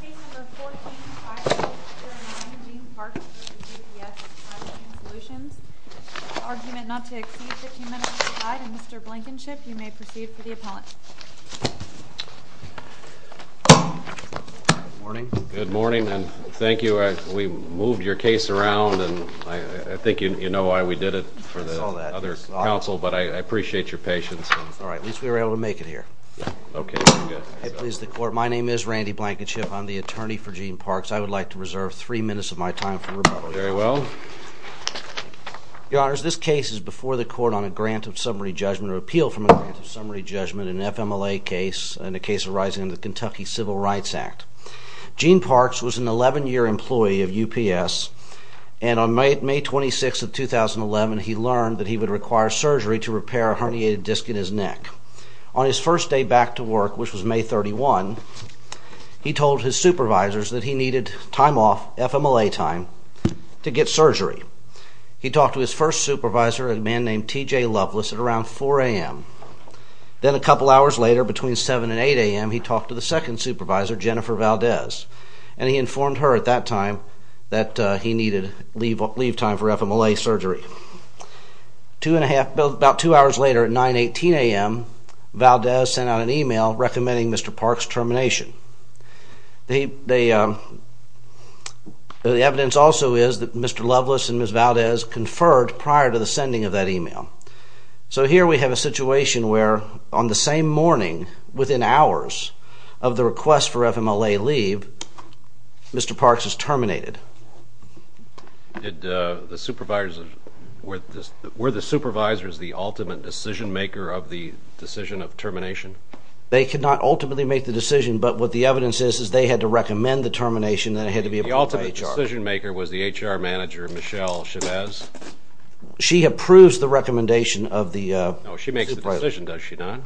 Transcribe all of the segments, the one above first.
Case No. 14, Firefighter and Managing Parks v. UPS Supply Chain Solutions Argument not to exceed 15 minutes to decide, and Mr. Blankenship, you may proceed for the appellant. Good morning, and thank you. We moved your case around, and I think you know why we did it for the other counsel, but I appreciate your patience. Alright, at least we were able to make it here. If it pleases the Court, my name is Randy Blankenship. I'm the attorney for Gene Parks. I would like to reserve three minutes of my time for rebuttal. Very well. Your Honors, this case is before the Court on a Grant of Summary Judgment or Appeal from a Grant of Summary Judgment, an FMLA case, and a case arising in the Kentucky Civil Rights Act. Gene Parks was an 11-year employee of UPS, and on May 26, 2011, he learned that he would require surgery to repair a herniated disc in his neck. On his first day back to work, which was May 31, he told his supervisors that he needed time off, FMLA time, to get surgery. He talked to his first supervisor, a man named T.J. Loveless, at around 4 a.m. Then a couple hours later, between 7 and 8 a.m., he talked to the second supervisor, Jennifer Valdez, and he informed her at that time that he needed leave time for FMLA surgery. About two hours later, at 9.18 a.m., Valdez sent out an email recommending Mr. Parks' termination. The evidence also is that Mr. Loveless and Ms. Valdez conferred prior to the sending of that email. So here we have a situation where, on the same morning, within hours of the request for FMLA leave, Mr. Parks is terminated. Were the supervisors the ultimate decision-maker of the decision of termination? They could not ultimately make the decision, but what the evidence is, is they had to recommend the termination, then it had to be approved by HR. The ultimate decision-maker was the HR manager, Michelle Chavez? She approves the recommendation of the supervisor. No, she makes the decision, does she not?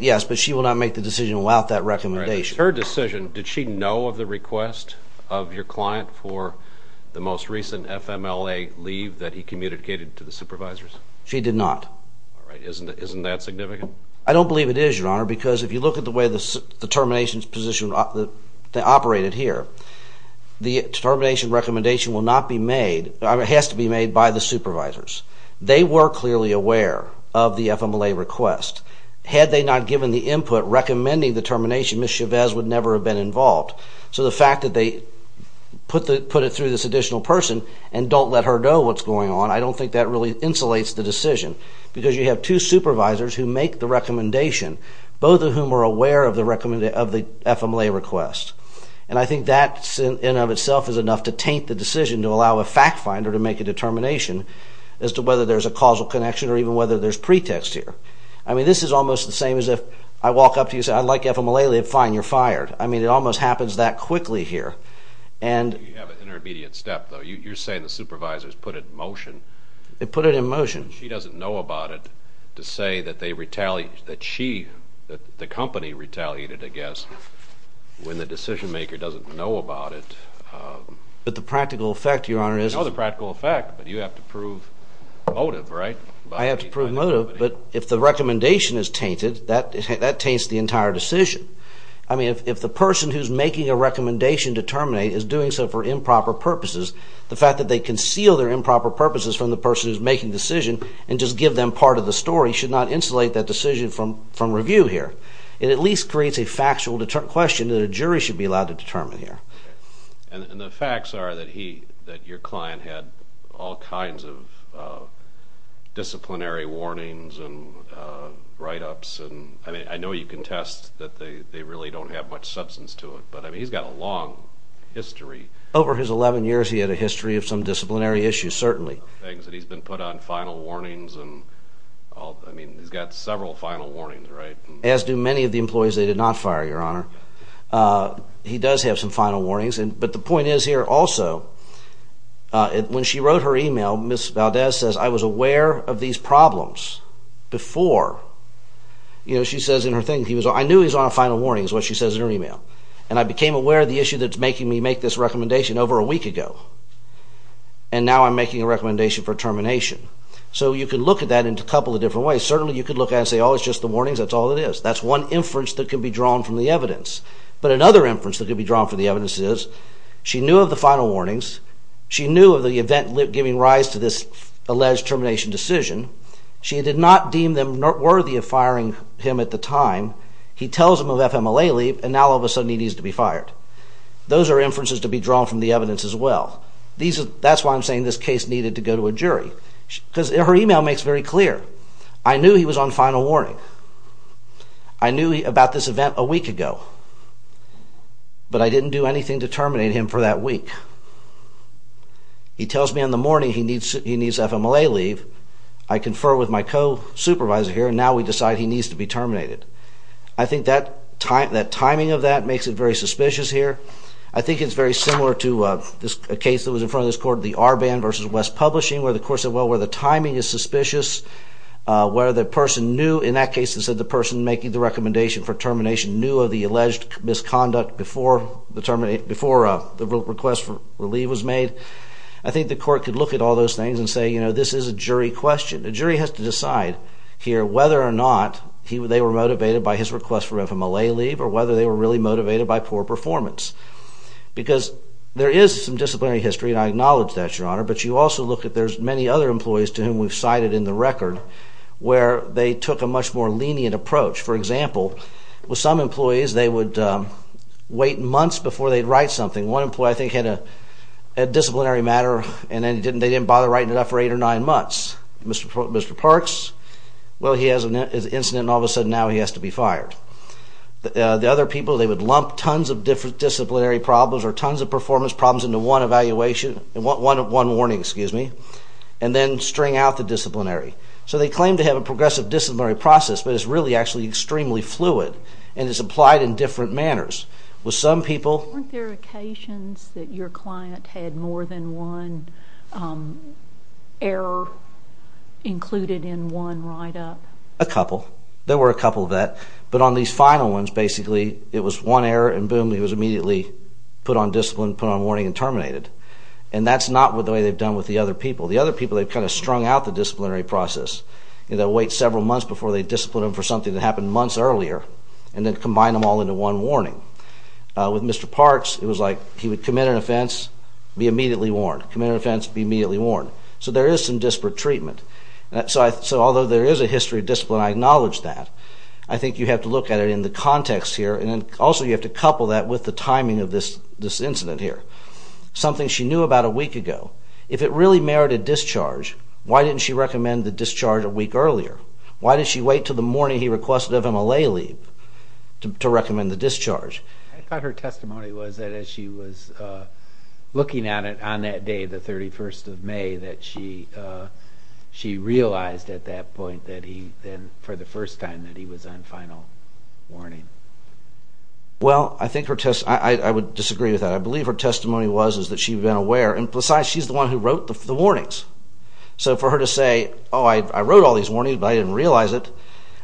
Yes, but she will not make the decision without that recommendation. Her decision, did she know of the request of your client for the most recent FMLA leave that he communicated to the supervisors? She did not. All right, isn't that significant? I don't believe it is, Your Honor, because if you look at the way the termination position operated here, the termination recommendation will not be made, or has to be made, by the supervisors. They were clearly aware of the FMLA request. Had they not given the input recommending the termination, Ms. Chavez would never have been involved. So the fact that they put it through this additional person and don't let her know what's going on, I don't think that really insulates the decision, because you have two supervisors who make the recommendation, both of whom are aware of the FMLA request. And I think that, in and of itself, is enough to taint the decision to allow a fact-finder to make a determination as to whether there's a causal connection or even whether there's pretext here. I mean, this is almost the same as if I walk up to you and say, I'd like FMLA leave. Fine, you're fired. I mean, it almost happens that quickly here. You have an intermediate step, though. You're saying the supervisors put it in motion. They put it in motion. She doesn't know about it to say that the company retaliated, I guess, when the decision-maker doesn't know about it. But the practical effect, Your Honor, is… No, the practical effect, but you have to prove motive, right? I have to prove motive, but if the recommendation is tainted, that taints the entire decision. I mean, if the person who's making a recommendation to terminate is doing so for improper purposes, the fact that they conceal their improper purposes from the person who's making the decision and just give them part of the story should not insulate that decision from review here. It at least creates a factual question that a jury should be allowed to determine here. And the facts are that your client had all kinds of disciplinary warnings and write-ups. I mean, I know you contest that they really don't have much substance to it, but, I mean, he's got a long history. Over his 11 years, he had a history of some disciplinary issues, certainly. Things that he's been put on final warnings and, I mean, he's got several final warnings, right? As do many of the employees they did not fire, Your Honor. He does have some final warnings, but the point is here also, when she wrote her email, Ms. Valdez says, I was aware of these problems before. You know, she says in her thing, I knew he was on a final warning is what she says in her email. And I became aware of the issue that's making me make this recommendation over a week ago. And now I'm making a recommendation for termination. So you can look at that in a couple of different ways. Certainly, you could look at it and say, oh, it's just the warnings, that's all it is. That's one inference that could be drawn from the evidence. But another inference that could be drawn from the evidence is she knew of the final warnings. She knew of the event giving rise to this alleged termination decision. She did not deem them worthy of firing him at the time. He tells them of FMLA leave, and now all of a sudden he needs to be fired. Those are inferences to be drawn from the evidence as well. That's why I'm saying this case needed to go to a jury. Because her email makes very clear, I knew he was on final warning. I knew about this event a week ago. But I didn't do anything to terminate him for that week. He tells me in the morning he needs FMLA leave. I confer with my co-supervisor here, and now we decide he needs to be terminated. I think that timing of that makes it very suspicious here. I think it's very similar to a case that was in front of this court, the Arban v. West Publishing, where the court said, well, where the timing is suspicious, where the person knew, in that case it said the person making the recommendation for termination knew of the alleged misconduct before the request for leave was made. I think the court could look at all those things and say, you know, this is a jury question. A jury has to decide here whether or not they were motivated by his request for FMLA leave or whether they were really motivated by poor performance. Because there is some disciplinary history, and I acknowledge that, Your Honor, but you also look at there's many other employees to whom we've cited in the record where they took a much more lenient approach. For example, with some employees, they would wait months before they'd write something. One employee, I think, had a disciplinary matter, and they didn't bother writing it up for eight or nine months. Mr. Parks, well, he has an incident, and all of a sudden now he has to be fired. The other people, they would lump tons of disciplinary problems or tons of performance problems into one warning and then string out the disciplinary. So they claim to have a progressive disciplinary process, but it's really actually extremely fluid, and it's applied in different manners. Weren't there occasions that your client had more than one error included in one write-up? A couple. There were a couple of that. But on these final ones, basically, it was one error, and boom, he was immediately put on discipline, put on warning, and terminated. And that's not the way they've done with the other people. The other people, they've kind of strung out the disciplinary process. They'll wait several months before they discipline him for something that happened months earlier and then combine them all into one warning. With Mr. Parks, it was like he would commit an offense, be immediately warned, commit an offense, be immediately warned. So there is some disparate treatment. So although there is a history of discipline, I acknowledge that. I think you have to look at it in the context here, and also you have to couple that with the timing of this incident here. Something she knew about a week ago. If it really merited discharge, why didn't she recommend the discharge a week earlier? Why did she wait until the morning he requested of him a lay leave to recommend the discharge? I thought her testimony was that as she was looking at it on that day, the 31st of May, that she realized at that point that he, for the first time, that he was on final warning. Well, I think her testimony, I would disagree with that. I believe her testimony was that she had been aware. And besides, she's the one who wrote the warnings. So for her to say, oh, I wrote all these warnings, but I didn't realize it,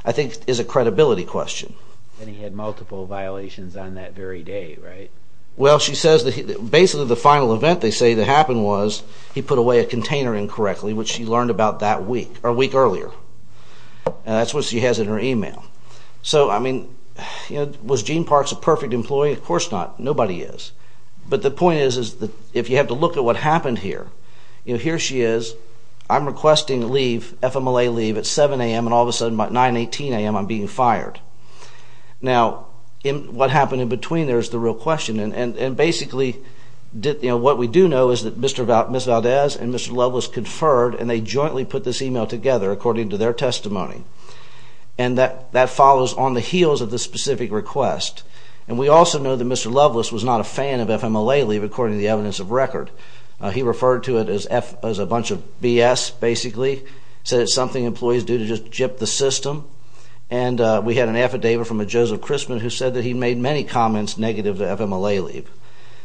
I think is a credibility question. And he had multiple violations on that very day, right? Well, she says that basically the final event they say that happened was he put away a container incorrectly, which she learned about that week, or a week earlier. That's what she has in her email. So, I mean, was Gene Parks a perfect employee? Of course not. Nobody is. But the point is that if you have to look at what happened here, here she is, I'm requesting leave, FMLA leave, at 7 a.m., and all of a sudden at 9, 18 a.m. I'm being fired. Now, what happened in between there is the real question. And basically, what we do know is that Ms. Valdez and Mr. Loveless conferred, and they jointly put this email together, according to their testimony. And that follows on the heels of the specific request. And we also know that Mr. Loveless was not a fan of FMLA leave, according to the evidence of record. He referred to it as a bunch of BS, basically. Said it's something employees do to just jip the system. And we had an affidavit from a Joseph Crisman who said that he made many comments negative to FMLA leave.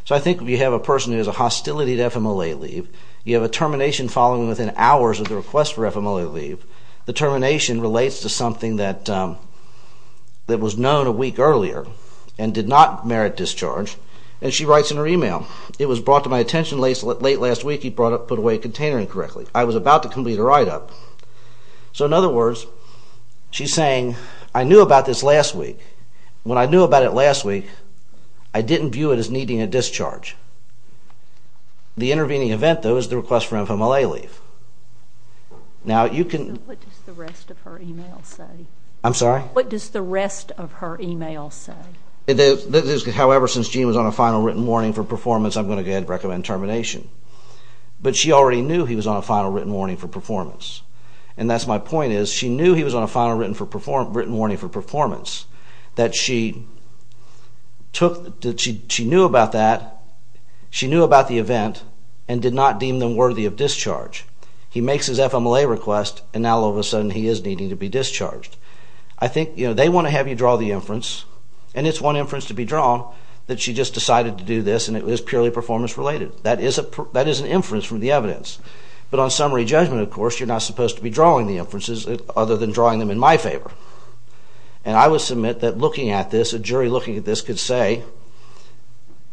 So I think if you have a person who has a hostility to FMLA leave, you have a termination following within hours of the request for FMLA leave, the termination relates to something that was known a week earlier and did not merit discharge. And she writes in her email, It was brought to my attention late last week you put away a container incorrectly. I was about to complete a write-up. So in other words, she's saying, I knew about this last week. When I knew about it last week, I didn't view it as needing a discharge. The intervening event, though, is the request for FMLA leave. Now, you can... What does the rest of her email say? I'm sorry? What does the rest of her email say? However, since Jean was on a final written warning for performance, I'm going to recommend termination. But she already knew he was on a final written warning for performance. And that's my point is she knew he was on a final written warning for performance, that she knew about that, she knew about the event, and did not deem them worthy of discharge. He makes his FMLA request, and now all of a sudden he is needing to be discharged. I think they want to have you draw the inference, and it's one inference to be drawn that she just decided to do this, and it was purely performance-related. That is an inference from the evidence. But on summary judgment, of course, you're not supposed to be drawing the inferences other than drawing them in my favor. And I would submit that looking at this, a jury looking at this could say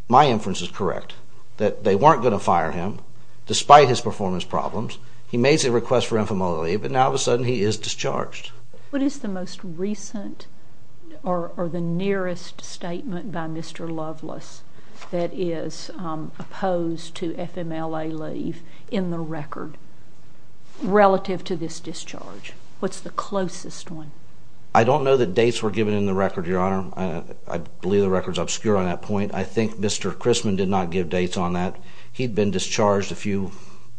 my inference is correct, that they weren't going to fire him despite his performance problems. He makes a request for FMLA leave, and now all of a sudden he is discharged. What is the most recent or the nearest statement by Mr. Loveless that is opposed to FMLA leave in the record relative to this discharge? What's the closest one? I don't know that dates were given in the record, Your Honor. I believe the record is obscure on that point. I think Mr. Chrisman did not give dates on that. He'd been discharged a few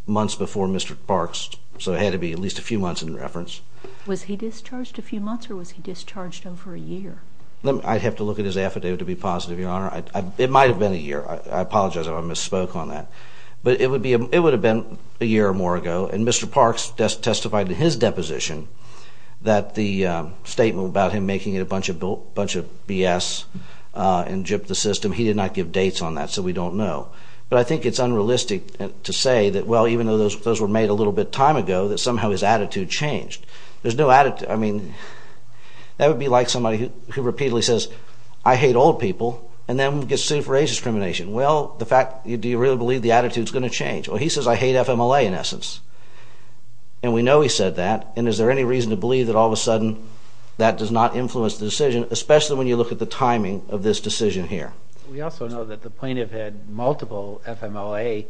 months before Mr. Parks, so it had to be at least a few months in reference. Was he discharged a few months or was he discharged over a year? I'd have to look at his affidavit to be positive, Your Honor. It might have been a year. I apologize if I misspoke on that. But it would have been a year or more ago, and Mr. Parks testified in his deposition that the statement about him making a bunch of BS and gypped the system, he did not give dates on that, so we don't know. But I think it's unrealistic to say that, well, even though those were made a little bit time ago, that somehow his attitude changed. There's no attitude. I mean, that would be like somebody who repeatedly says, I hate old people and then gets sued for age discrimination. Well, do you really believe the attitude's going to change? Well, he says, I hate FMLA in essence, and we know he said that, and is there any reason to believe that all of a sudden that does not influence the decision, especially when you look at the timing of this decision here? We also know that the plaintiff had multiple FMLA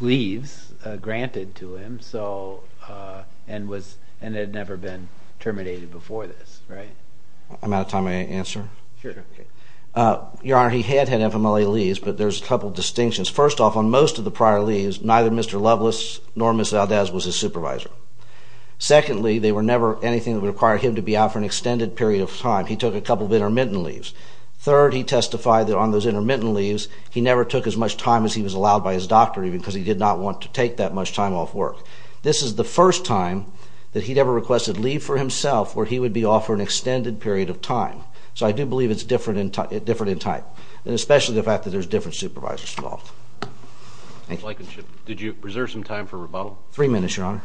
leaves granted to him and had never been terminated before this, right? I'm out of time. May I answer? Sure. Your Honor, he had had FMLA leaves, but there's a couple of distinctions. First off, on most of the prior leaves, neither Mr. Loveless nor Ms. Valdez was his supervisor. Secondly, they were never anything that would require him to be out for an extended period of time. He took a couple of intermittent leaves. Third, he testified that on those intermittent leaves, he never took as much time as he was allowed by his doctor, even because he did not want to take that much time off work. This is the first time that he'd ever requested leave for himself where he would be off for an extended period of time. So I do believe it's different in type, and especially the fact that there's different supervisors involved. Did you preserve some time for rebuttal? Three minutes, Your Honor.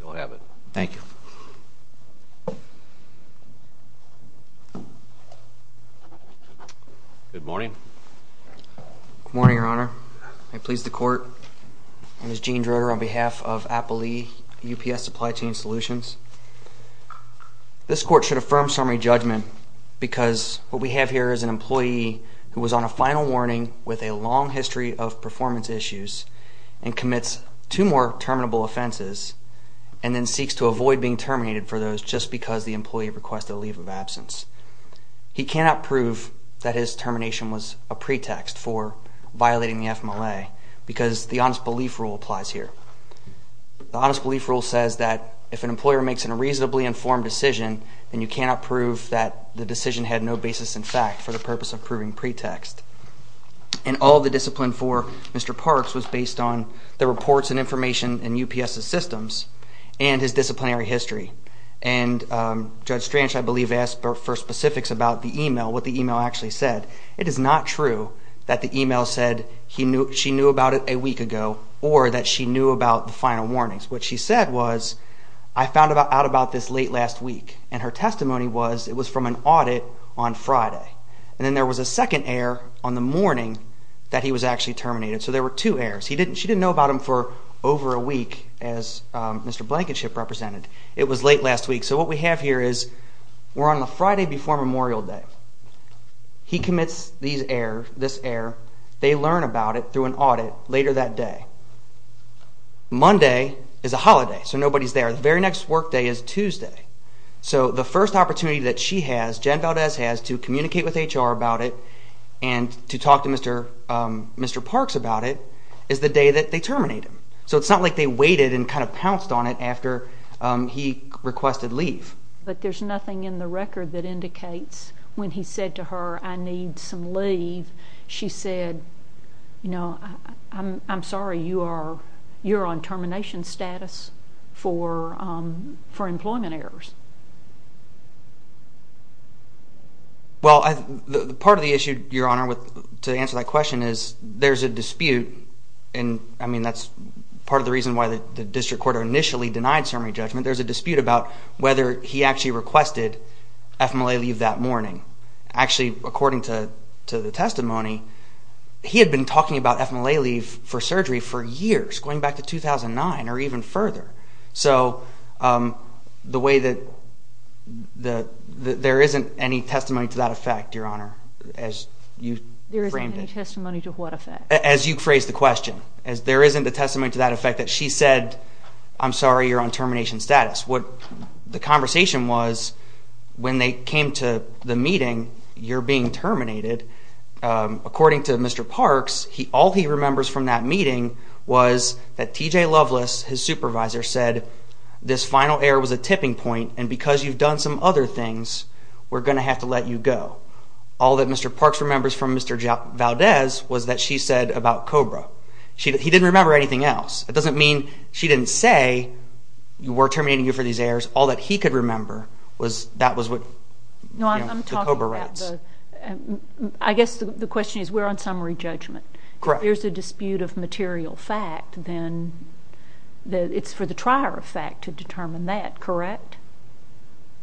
You'll have it. Thank you. Good morning. Good morning, Your Honor. May it please the Court. My name is Gene Droder on behalf of Appalee UPS Supply Chain Solutions. This Court should affirm summary judgment because what we have here is an employee who was on a final warning with a long history of performance issues and commits two more terminable offenses and then seeks to avoid being terminated for those just because the employee requested a leave of absence. He cannot prove that his termination was a pretext for violating the FMLA because the honest belief rule applies here. The honest belief rule says that if an employer makes a reasonably informed decision, then you cannot prove that the decision had no basis in fact for the purpose of proving pretext. And all the discipline for Mr. Parks was based on the reports and information in UPS's systems and his disciplinary history. And Judge Strange, I believe, asked for specifics about the email, what the email actually said. It is not true that the email said she knew about it a week ago or that she knew about the final warnings. What she said was, I found out about this late last week, and her testimony was it was from an audit on Friday. And then there was a second error on the morning that he was actually terminated. So there were two errors. She didn't know about him for over a week as Mr. Blankenship represented. It was late last week. So what we have here is we're on the Friday before Memorial Day. He commits this error. They learn about it through an audit later that day. Monday is a holiday, so nobody's there. The very next work day is Tuesday. So the first opportunity that she has, Jen Valdez has, to communicate with HR about it and to talk to Mr. Parks about it is the day that they terminate him. So it's not like they waited and kind of pounced on it after he requested leave. But there's nothing in the record that indicates when he said to her, I need some leave, she said, I'm sorry, you're on termination status for employment errors. Well, part of the issue, Your Honor, to answer that question is there's a dispute, and I mean that's part of the reason why the district court initially denied ceremony judgment. There's a dispute about whether he actually requested FMLA leave that morning. Actually, according to the testimony, he had been talking about FMLA leave for surgery for years, going back to 2009 or even further. So the way that there isn't any testimony to that effect, Your Honor, as you framed it. As you phrased the question. There isn't a testimony to that effect that she said, I'm sorry, you're on termination status. The conversation was when they came to the meeting, you're being terminated. According to Mr. Parks, all he remembers from that meeting was that T.J. Loveless, his supervisor, said this final error was a tipping point, and because you've done some other things, we're going to have to let you go. All that Mr. Parks remembers from Mr. Valdez was that she said about COBRA. He didn't remember anything else. It doesn't mean she didn't say you were terminating you for these errors. All that he could remember was that was what the COBRA writes. I guess the question is we're on summary judgment. Correct. If there's a dispute of material fact, then it's for the trier of fact to determine that, correct?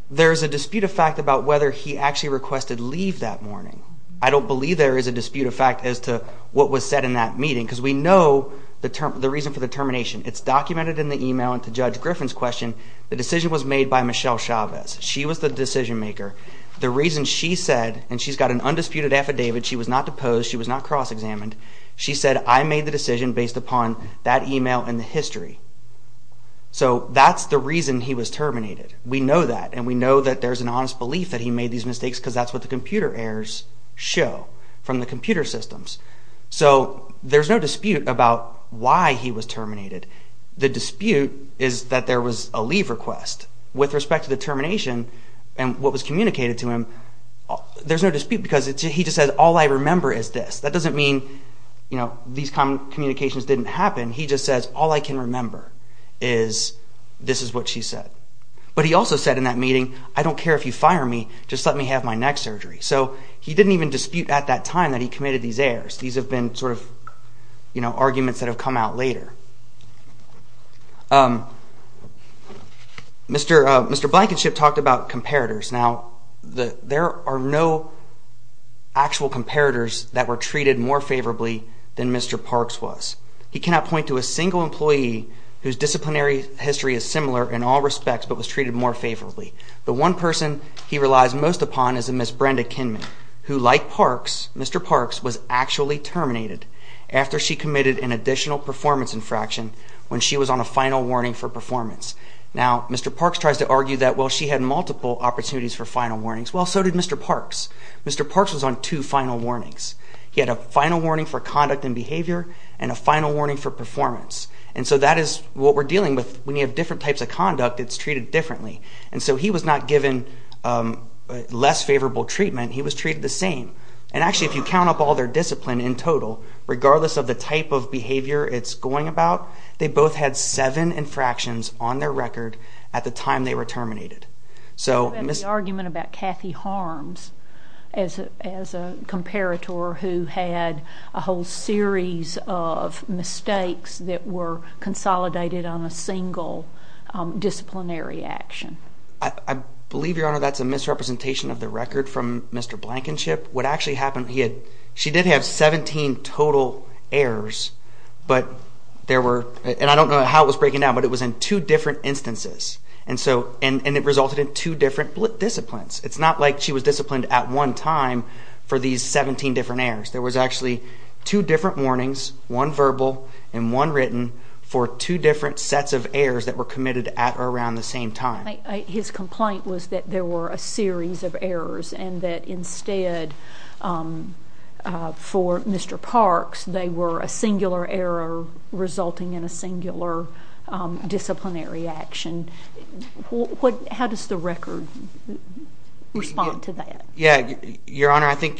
There's a dispute of fact about whether he actually requested leave that morning. I don't believe there is a dispute of fact as to what was said in that meeting because we know the reason for the termination. It's documented in the email, and to Judge Griffin's question, the decision was made by Michelle Chavez. She was the decision maker. The reason she said, and she's got an undisputed affidavit. She was not deposed. She was not cross-examined. She said, I made the decision based upon that email and the history. So that's the reason he was terminated. We know that, and we know that there's an honest belief that he made these mistakes because that's what the computer errors show from the computer systems. So there's no dispute about why he was terminated. The dispute is that there was a leave request. With respect to the termination and what was communicated to him, there's no dispute because he just said, all I remember is this. That doesn't mean these communications didn't happen. He just says, all I can remember is this is what she said. But he also said in that meeting, I don't care if you fire me, just let me have my neck surgery. So he didn't even dispute at that time that he committed these errors. These have been sort of arguments that have come out later. Mr. Blankenship talked about comparators. Now, there are no actual comparators that were treated more favorably than Mr. Parks was. He cannot point to a single employee whose disciplinary history is similar in all respects but was treated more favorably. The one person he relies most upon is Ms. Brenda Kinman, who, like Mr. Parks, was actually terminated after she committed an additional performance infraction when she was on a final warning for performance. Now, Mr. Parks tries to argue that, well, she had multiple opportunities for final warnings. Well, so did Mr. Parks. Mr. Parks was on two final warnings. He had a final warning for conduct and behavior and a final warning for performance. And so that is what we're dealing with. When you have different types of conduct, it's treated differently. And so he was not given less favorable treatment. He was treated the same. And actually, if you count up all their discipline in total, regardless of the type of behavior it's going about, they both had seven infractions on their record at the time they were terminated. You have the argument about Kathy Harms as a comparator who had a whole series of mistakes that were consolidated on a single disciplinary action. I believe, Your Honor, that's a misrepresentation of the record from Mr. Blankenship. What actually happened, she did have 17 total errors. But there were, and I don't know how it was breaking down, but it was in two different instances. And it resulted in two different disciplines. It's not like she was disciplined at one time for these 17 different errors. There was actually two different warnings, one verbal and one written, for two different sets of errors that were committed at or around the same time. His complaint was that there were a series of errors and that instead for Mr. Parks they were a singular error resulting in a singular disciplinary action. How does the record respond to that? Your Honor, I think,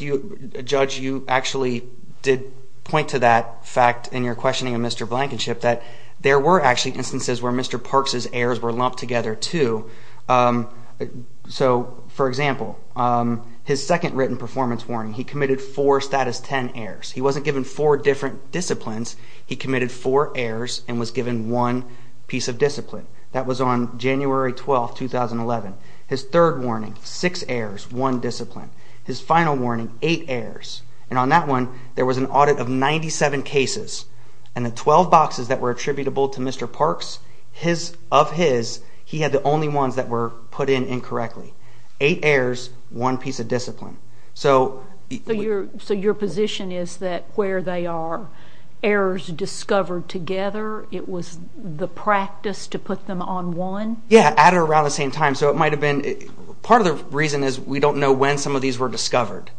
Judge, you actually did point to that fact in your questioning of Mr. Blankenship, that there were actually instances where Mr. Parks' errors were lumped together too. So, for example, his second written performance warning, he committed four status 10 errors. He wasn't given four different disciplines. He committed four errors and was given one piece of discipline. That was on January 12, 2011. His third warning, six errors, one discipline. His final warning, eight errors. And on that one, there was an audit of 97 cases. And the 12 boxes that were attributable to Mr. Parks, of his, he had the only ones that were put in incorrectly. Eight errors, one piece of discipline. So your position is that where they are, errors discovered together, it was the practice to put them on one? Yeah, at or around the same time. So it might have been, part of the reason is we don't know when some of these were discovered.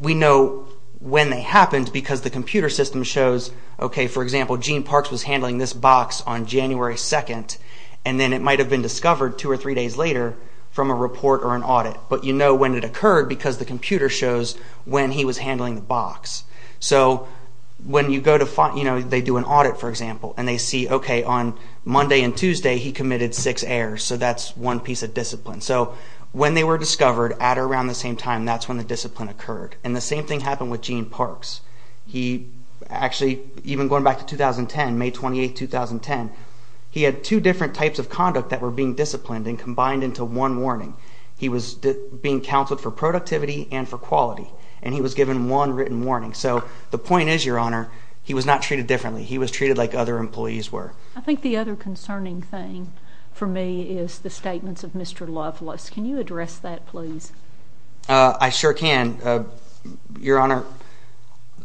We know when they happened because the computer system shows, okay, for example, Gene Parks was handling this box on January 2, and then it might have been discovered two or three days later from a report or an audit. But you know when it occurred because the computer shows when he was handling the box. So when you go to, you know, they do an audit, for example, and they see, okay, on Monday and Tuesday, he committed six errors. So that's one piece of discipline. So when they were discovered at or around the same time, that's when the discipline occurred. And the same thing happened with Gene Parks. He actually, even going back to 2010, May 28, 2010, he had two different types of conduct that were being disciplined and combined into one warning. He was being counseled for productivity and for quality, and he was given one written warning. So the point is, Your Honor, he was not treated differently. He was treated like other employees were. I think the other concerning thing for me is the statements of Mr. Loveless. Can you address that, please? I sure can. Your Honor,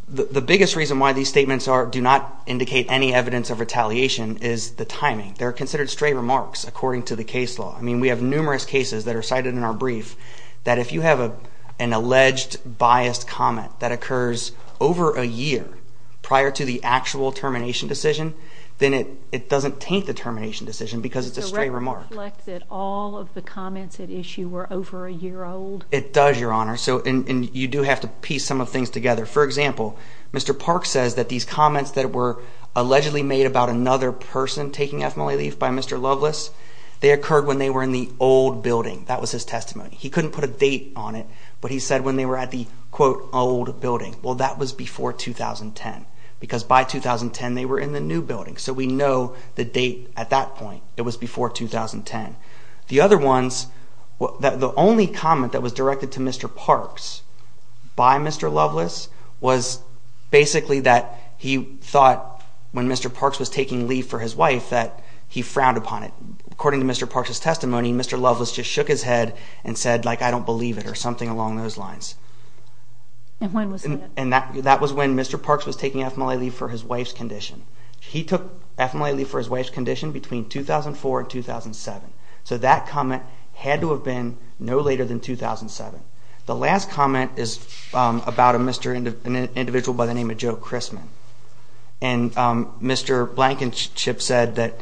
the biggest reason why these statements do not indicate any evidence of retaliation is the timing. They're considered stray remarks according to the case law. I mean, we have numerous cases that are cited in our brief that if you have an alleged biased comment that occurs over a year prior to the actual termination decision, then it doesn't taint the termination decision because it's a stray remark. Does the record reflect that all of the comments at issue were over a year old? It does, Your Honor, and you do have to piece some of the things together. For example, Mr. Parks says that these comments that were allegedly made about another person taking ethmoly leaf by Mr. Loveless, they occurred when they were in the old building. That was his testimony. He couldn't put a date on it, but he said when they were at the, quote, old building. Well, that was before 2010 because by 2010 they were in the new building, so we know the date at that point. It was before 2010. The other ones, the only comment that was directed to Mr. Parks by Mr. Loveless was basically that he thought when Mr. Parks was taking leaf for his wife that he frowned upon it. According to Mr. Parks' testimony, Mr. Loveless just shook his head and said, like, I don't believe it or something along those lines. And when was that? That was when Mr. Parks was taking ethmoly leaf for his wife's condition. He took ethmoly leaf for his wife's condition between 2004 and 2007, so that comment had to have been no later than 2007. The last comment is about an individual by the name of Joe Chrisman, and Mr. Blankenship said that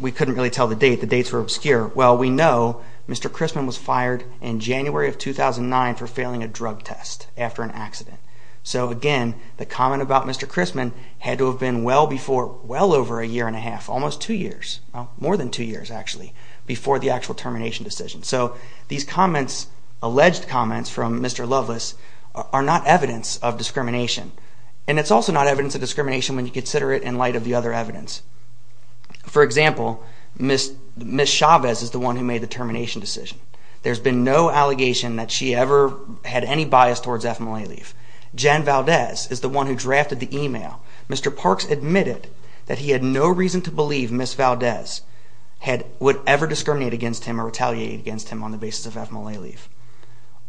we couldn't really tell the date. The dates were obscure. Well, we know Mr. Chrisman was fired in January of 2009 for failing a drug test after an accident. So again, the comment about Mr. Chrisman had to have been well over a year and a half, almost two years, more than two years actually, before the actual termination decision. So these comments, alleged comments from Mr. Loveless, are not evidence of discrimination, and it's also not evidence of discrimination when you consider it in light of the other evidence. For example, Ms. Chavez is the one who made the termination decision. There's been no allegation that she ever had any bias towards ethmoly leaf. Jen Valdez is the one who drafted the email. Mr. Parks admitted that he had no reason to believe Ms. Valdez would ever discriminate against him or retaliate against him on the basis of ethmoly leaf.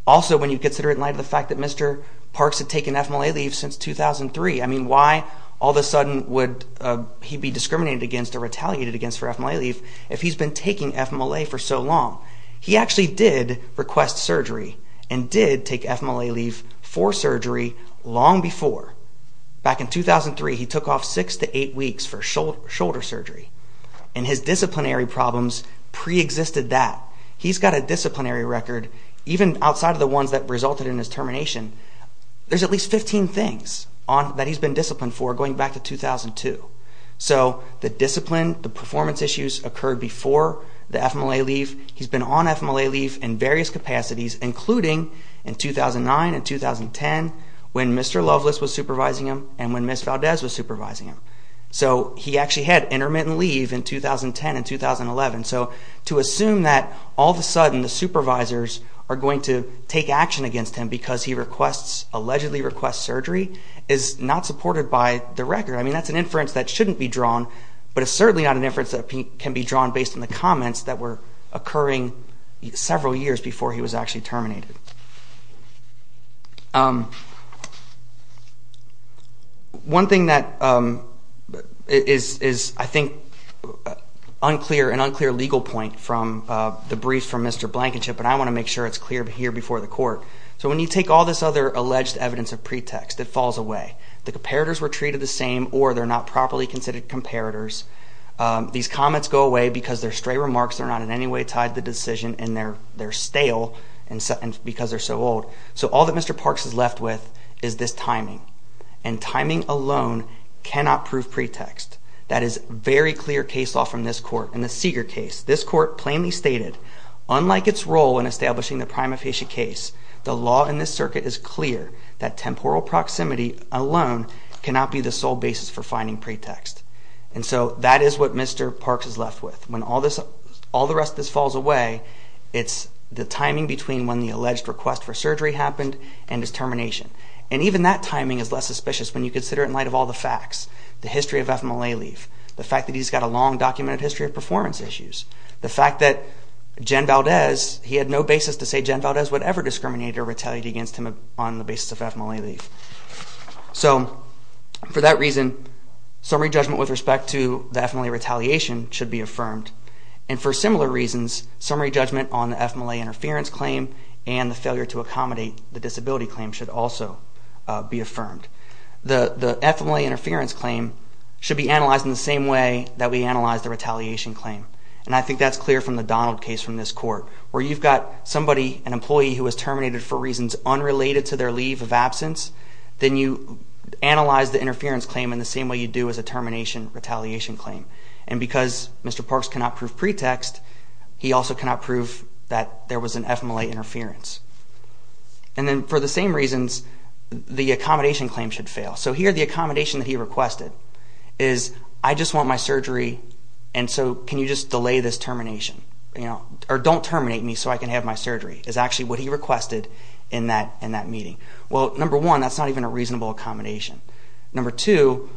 Also, when you consider it in light of the fact that Mr. Parks had taken ethmoly leaf since 2003, I mean, why all of a sudden would he be discriminated against or retaliated against for ethmoly leaf if he's been taking ethmoly for so long? He actually did request surgery and did take ethmoly leaf for surgery long before. Back in 2003, he took off six to eight weeks for shoulder surgery, and his disciplinary problems preexisted that. He's got a disciplinary record. Even outside of the ones that resulted in his termination, there's at least 15 things that he's been disciplined for going back to 2002. So the discipline, the performance issues occurred before the ethmoly leaf. He's been on ethmoly leaf in various capacities, including in 2009 and 2010 when Mr. Loveless was supervising him and when Ms. Valdez was supervising him. So he actually had intermittent leave in 2010 and 2011. So to assume that all of a sudden the supervisors are going to take action against him because he allegedly requests surgery is not supported by the record. I mean, that's an inference that shouldn't be drawn, but it's certainly not an inference that can be drawn based on the comments that were occurring several years before he was actually terminated. One thing that is, I think, an unclear legal point from the brief from Mr. Blankenship, but I want to make sure it's clear here before the court. So when you take all this other alleged evidence of pretext, it falls away. The comparators were treated the same or they're not properly considered comparators. These comments go away because they're stray remarks. They're not in any way tied to the decision, and they're stale. Because they're so old. So all that Mr. Parks is left with is this timing. And timing alone cannot prove pretext. That is very clear case law from this court. In the Seeger case, this court plainly stated, unlike its role in establishing the prima facie case, the law in this circuit is clear that temporal proximity alone cannot be the sole basis for finding pretext. And so that is what Mr. Parks is left with. When all the rest of this falls away, it's the timing between when the alleged request for surgery happened and his termination. And even that timing is less suspicious when you consider it in light of all the facts. The history of FMLA leave. The fact that he's got a long documented history of performance issues. The fact that Jen Valdez, he had no basis to say Jen Valdez, whatever, discriminated or retaliated against him on the basis of FMLA leave. So for that reason, summary judgment with respect to the FMLA retaliation should be affirmed. And for similar reasons, summary judgment on the FMLA interference claim and the failure to accommodate the disability claim should also be affirmed. The FMLA interference claim should be analyzed in the same way that we analyze the retaliation claim. And I think that's clear from the Donald case from this court. Where you've got somebody, an employee who was terminated for reasons unrelated to their leave of absence, then you analyze the interference claim in the same way you do as a termination retaliation claim. And because Mr. Parks cannot prove pretext, he also cannot prove that there was an FMLA interference. And then for the same reasons, the accommodation claim should fail. So here the accommodation that he requested is I just want my surgery, and so can you just delay this termination, or don't terminate me so I can have my surgery, is actually what he requested in that meeting. Well, number one, that's not even a reasonable accommodation. Number two,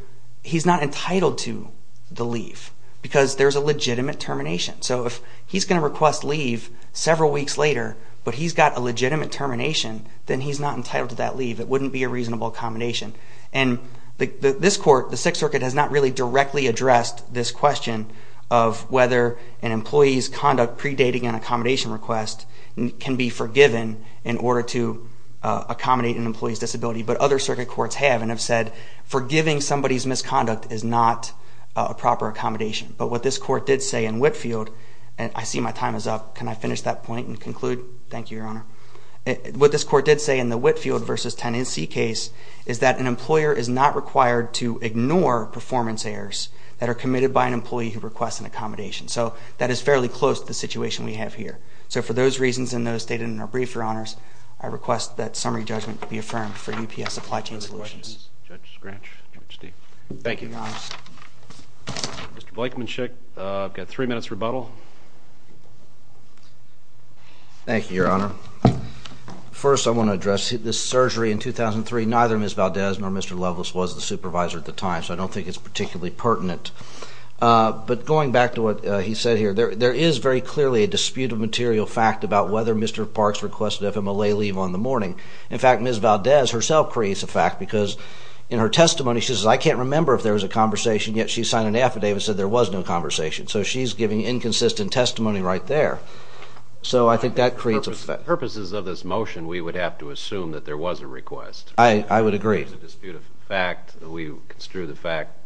he's not entitled to the leave because there's a legitimate termination. So if he's going to request leave several weeks later, but he's got a legitimate termination, then he's not entitled to that leave. It wouldn't be a reasonable accommodation. And this court, the Sixth Circuit, has not really directly addressed this question of whether an employee's conduct predating an accommodation request can be forgiven in order to accommodate an employee's disability. But other circuit courts have and have said forgiving somebody's misconduct is not a proper accommodation. But what this court did say in Whitfield, and I see my time is up. Can I finish that point and conclude? Thank you, Your Honor. What this court did say in the Whitfield v. Tennancy case is that an employer is not required to ignore performance errors that are committed by an employee who requests an accommodation. So that is fairly close to the situation we have here. So for those reasons and those stated in our brief, Your Honors, I request that summary judgment be affirmed for UPS Supply Chain Solutions. Any other questions? Judge Scratch, Judge Steele. Thank you. Mr. Bleikmanschek, I've got three minutes rebuttal. Thank you, Your Honor. First, I want to address this surgery in 2003. Neither Ms. Valdez nor Mr. Loveless was the supervisor at the time, so I don't think it's particularly pertinent. But going back to what he said here, there is very clearly a disputed material fact about whether Mr. Parks requested FMLA leave on the morning. In fact, Ms. Valdez herself creates a fact because in her testimony, she says, I can't remember if there was a conversation, yet she signed an affidavit that said there was no conversation. So she's giving inconsistent testimony right there. So I think that creates a fact. For purposes of this motion, we would have to assume that there was a request. I would agree. There's a disputed fact. We construe the fact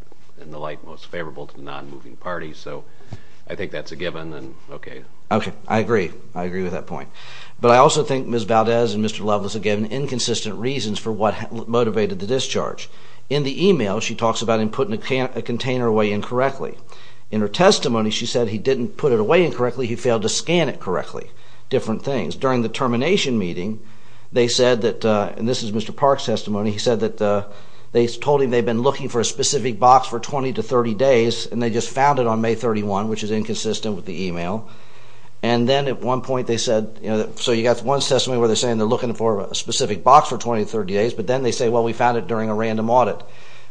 in the light most favorable to the non-moving party. So I think that's a given. Okay, I agree. I agree with that point. But I also think Ms. Valdez and Mr. Loveless have given inconsistent reasons for what motivated the discharge. In the email, she talks about him putting a container away incorrectly. In her testimony, she said he didn't put it away incorrectly. He failed to scan it correctly. Different things. During the termination meeting, they said that, and this is Mr. Parks' testimony, he said that they told him they'd been looking for a specific box for 20 to 30 days, and they just found it on May 31, which is inconsistent with the email. And then at one point they said, you know, so you got one testimony where they're saying they're looking for a specific box for 20 to 30 days, but then they say, well, we found it during a random audit.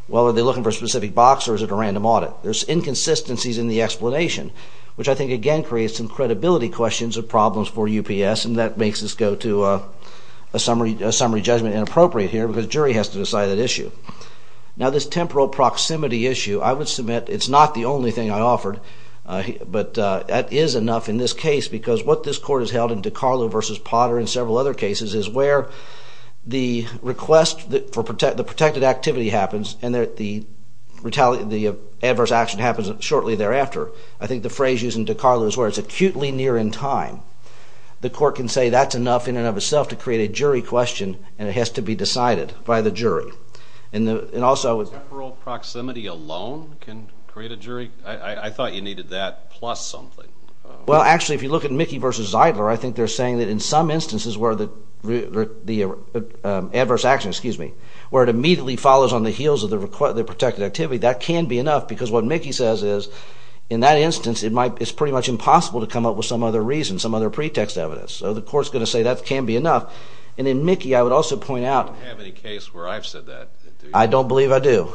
Well, are they looking for a specific box, or is it a random audit? There's inconsistencies in the explanation, which I think again creates some credibility questions or problems for UPS, and that makes us go to a summary judgment inappropriate here because the jury has to decide that issue. Now, this temporal proximity issue, I would submit, it's not the only thing I offered, but that is enough in this case because what this court has held in DiCarlo v. Potter and several other cases is where the request for the protected activity happens and the adverse action happens shortly thereafter. I think the phrase used in DiCarlo is where it's acutely near in time. The court can say that's enough in and of itself to create a jury question, and it has to be decided by the jury. And also... Temporal proximity alone can create a jury? I thought you needed that plus something. Well, actually, if you look at Mickey v. Zeidler, I think they're saying that in some instances where the adverse action, excuse me, where it immediately follows on the heels of the protected activity, that can be enough because what Mickey says is in that instance it's pretty much impossible to come up with some other reason, some other pretext evidence. So the court's going to say that can be enough. And in Mickey, I would also point out... I don't have any case where I've said that. I don't believe I do.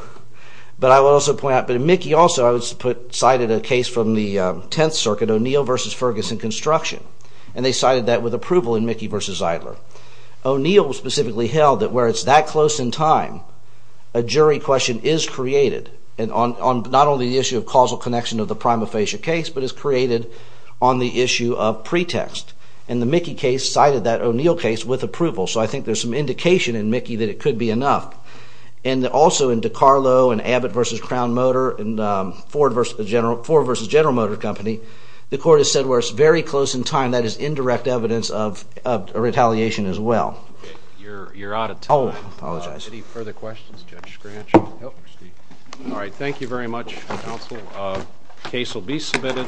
But I will also point out that in Mickey also, I cited a case from the Tenth Circuit, O'Neill v. Ferguson Construction, and they cited that with approval in Mickey v. Zeidler. O'Neill specifically held that where it's that close in time, a jury question is created on not only the issue of causal connection of the prima facie case, but is created on the issue of pretext. And the Mickey case cited that O'Neill case with approval. So I think there's some indication in Mickey that it could be enough. And also in DiCarlo and Abbott v. Crown Motor and Ford v. General Motor Company, the court has said where it's very close in time, that is indirect evidence of retaliation as well. You're out of time. Oh, I apologize. Any further questions? Judge Scratch? Nope. All right, thank you very much, counsel. The case will be submitted.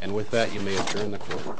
And with that, you may adjourn the court.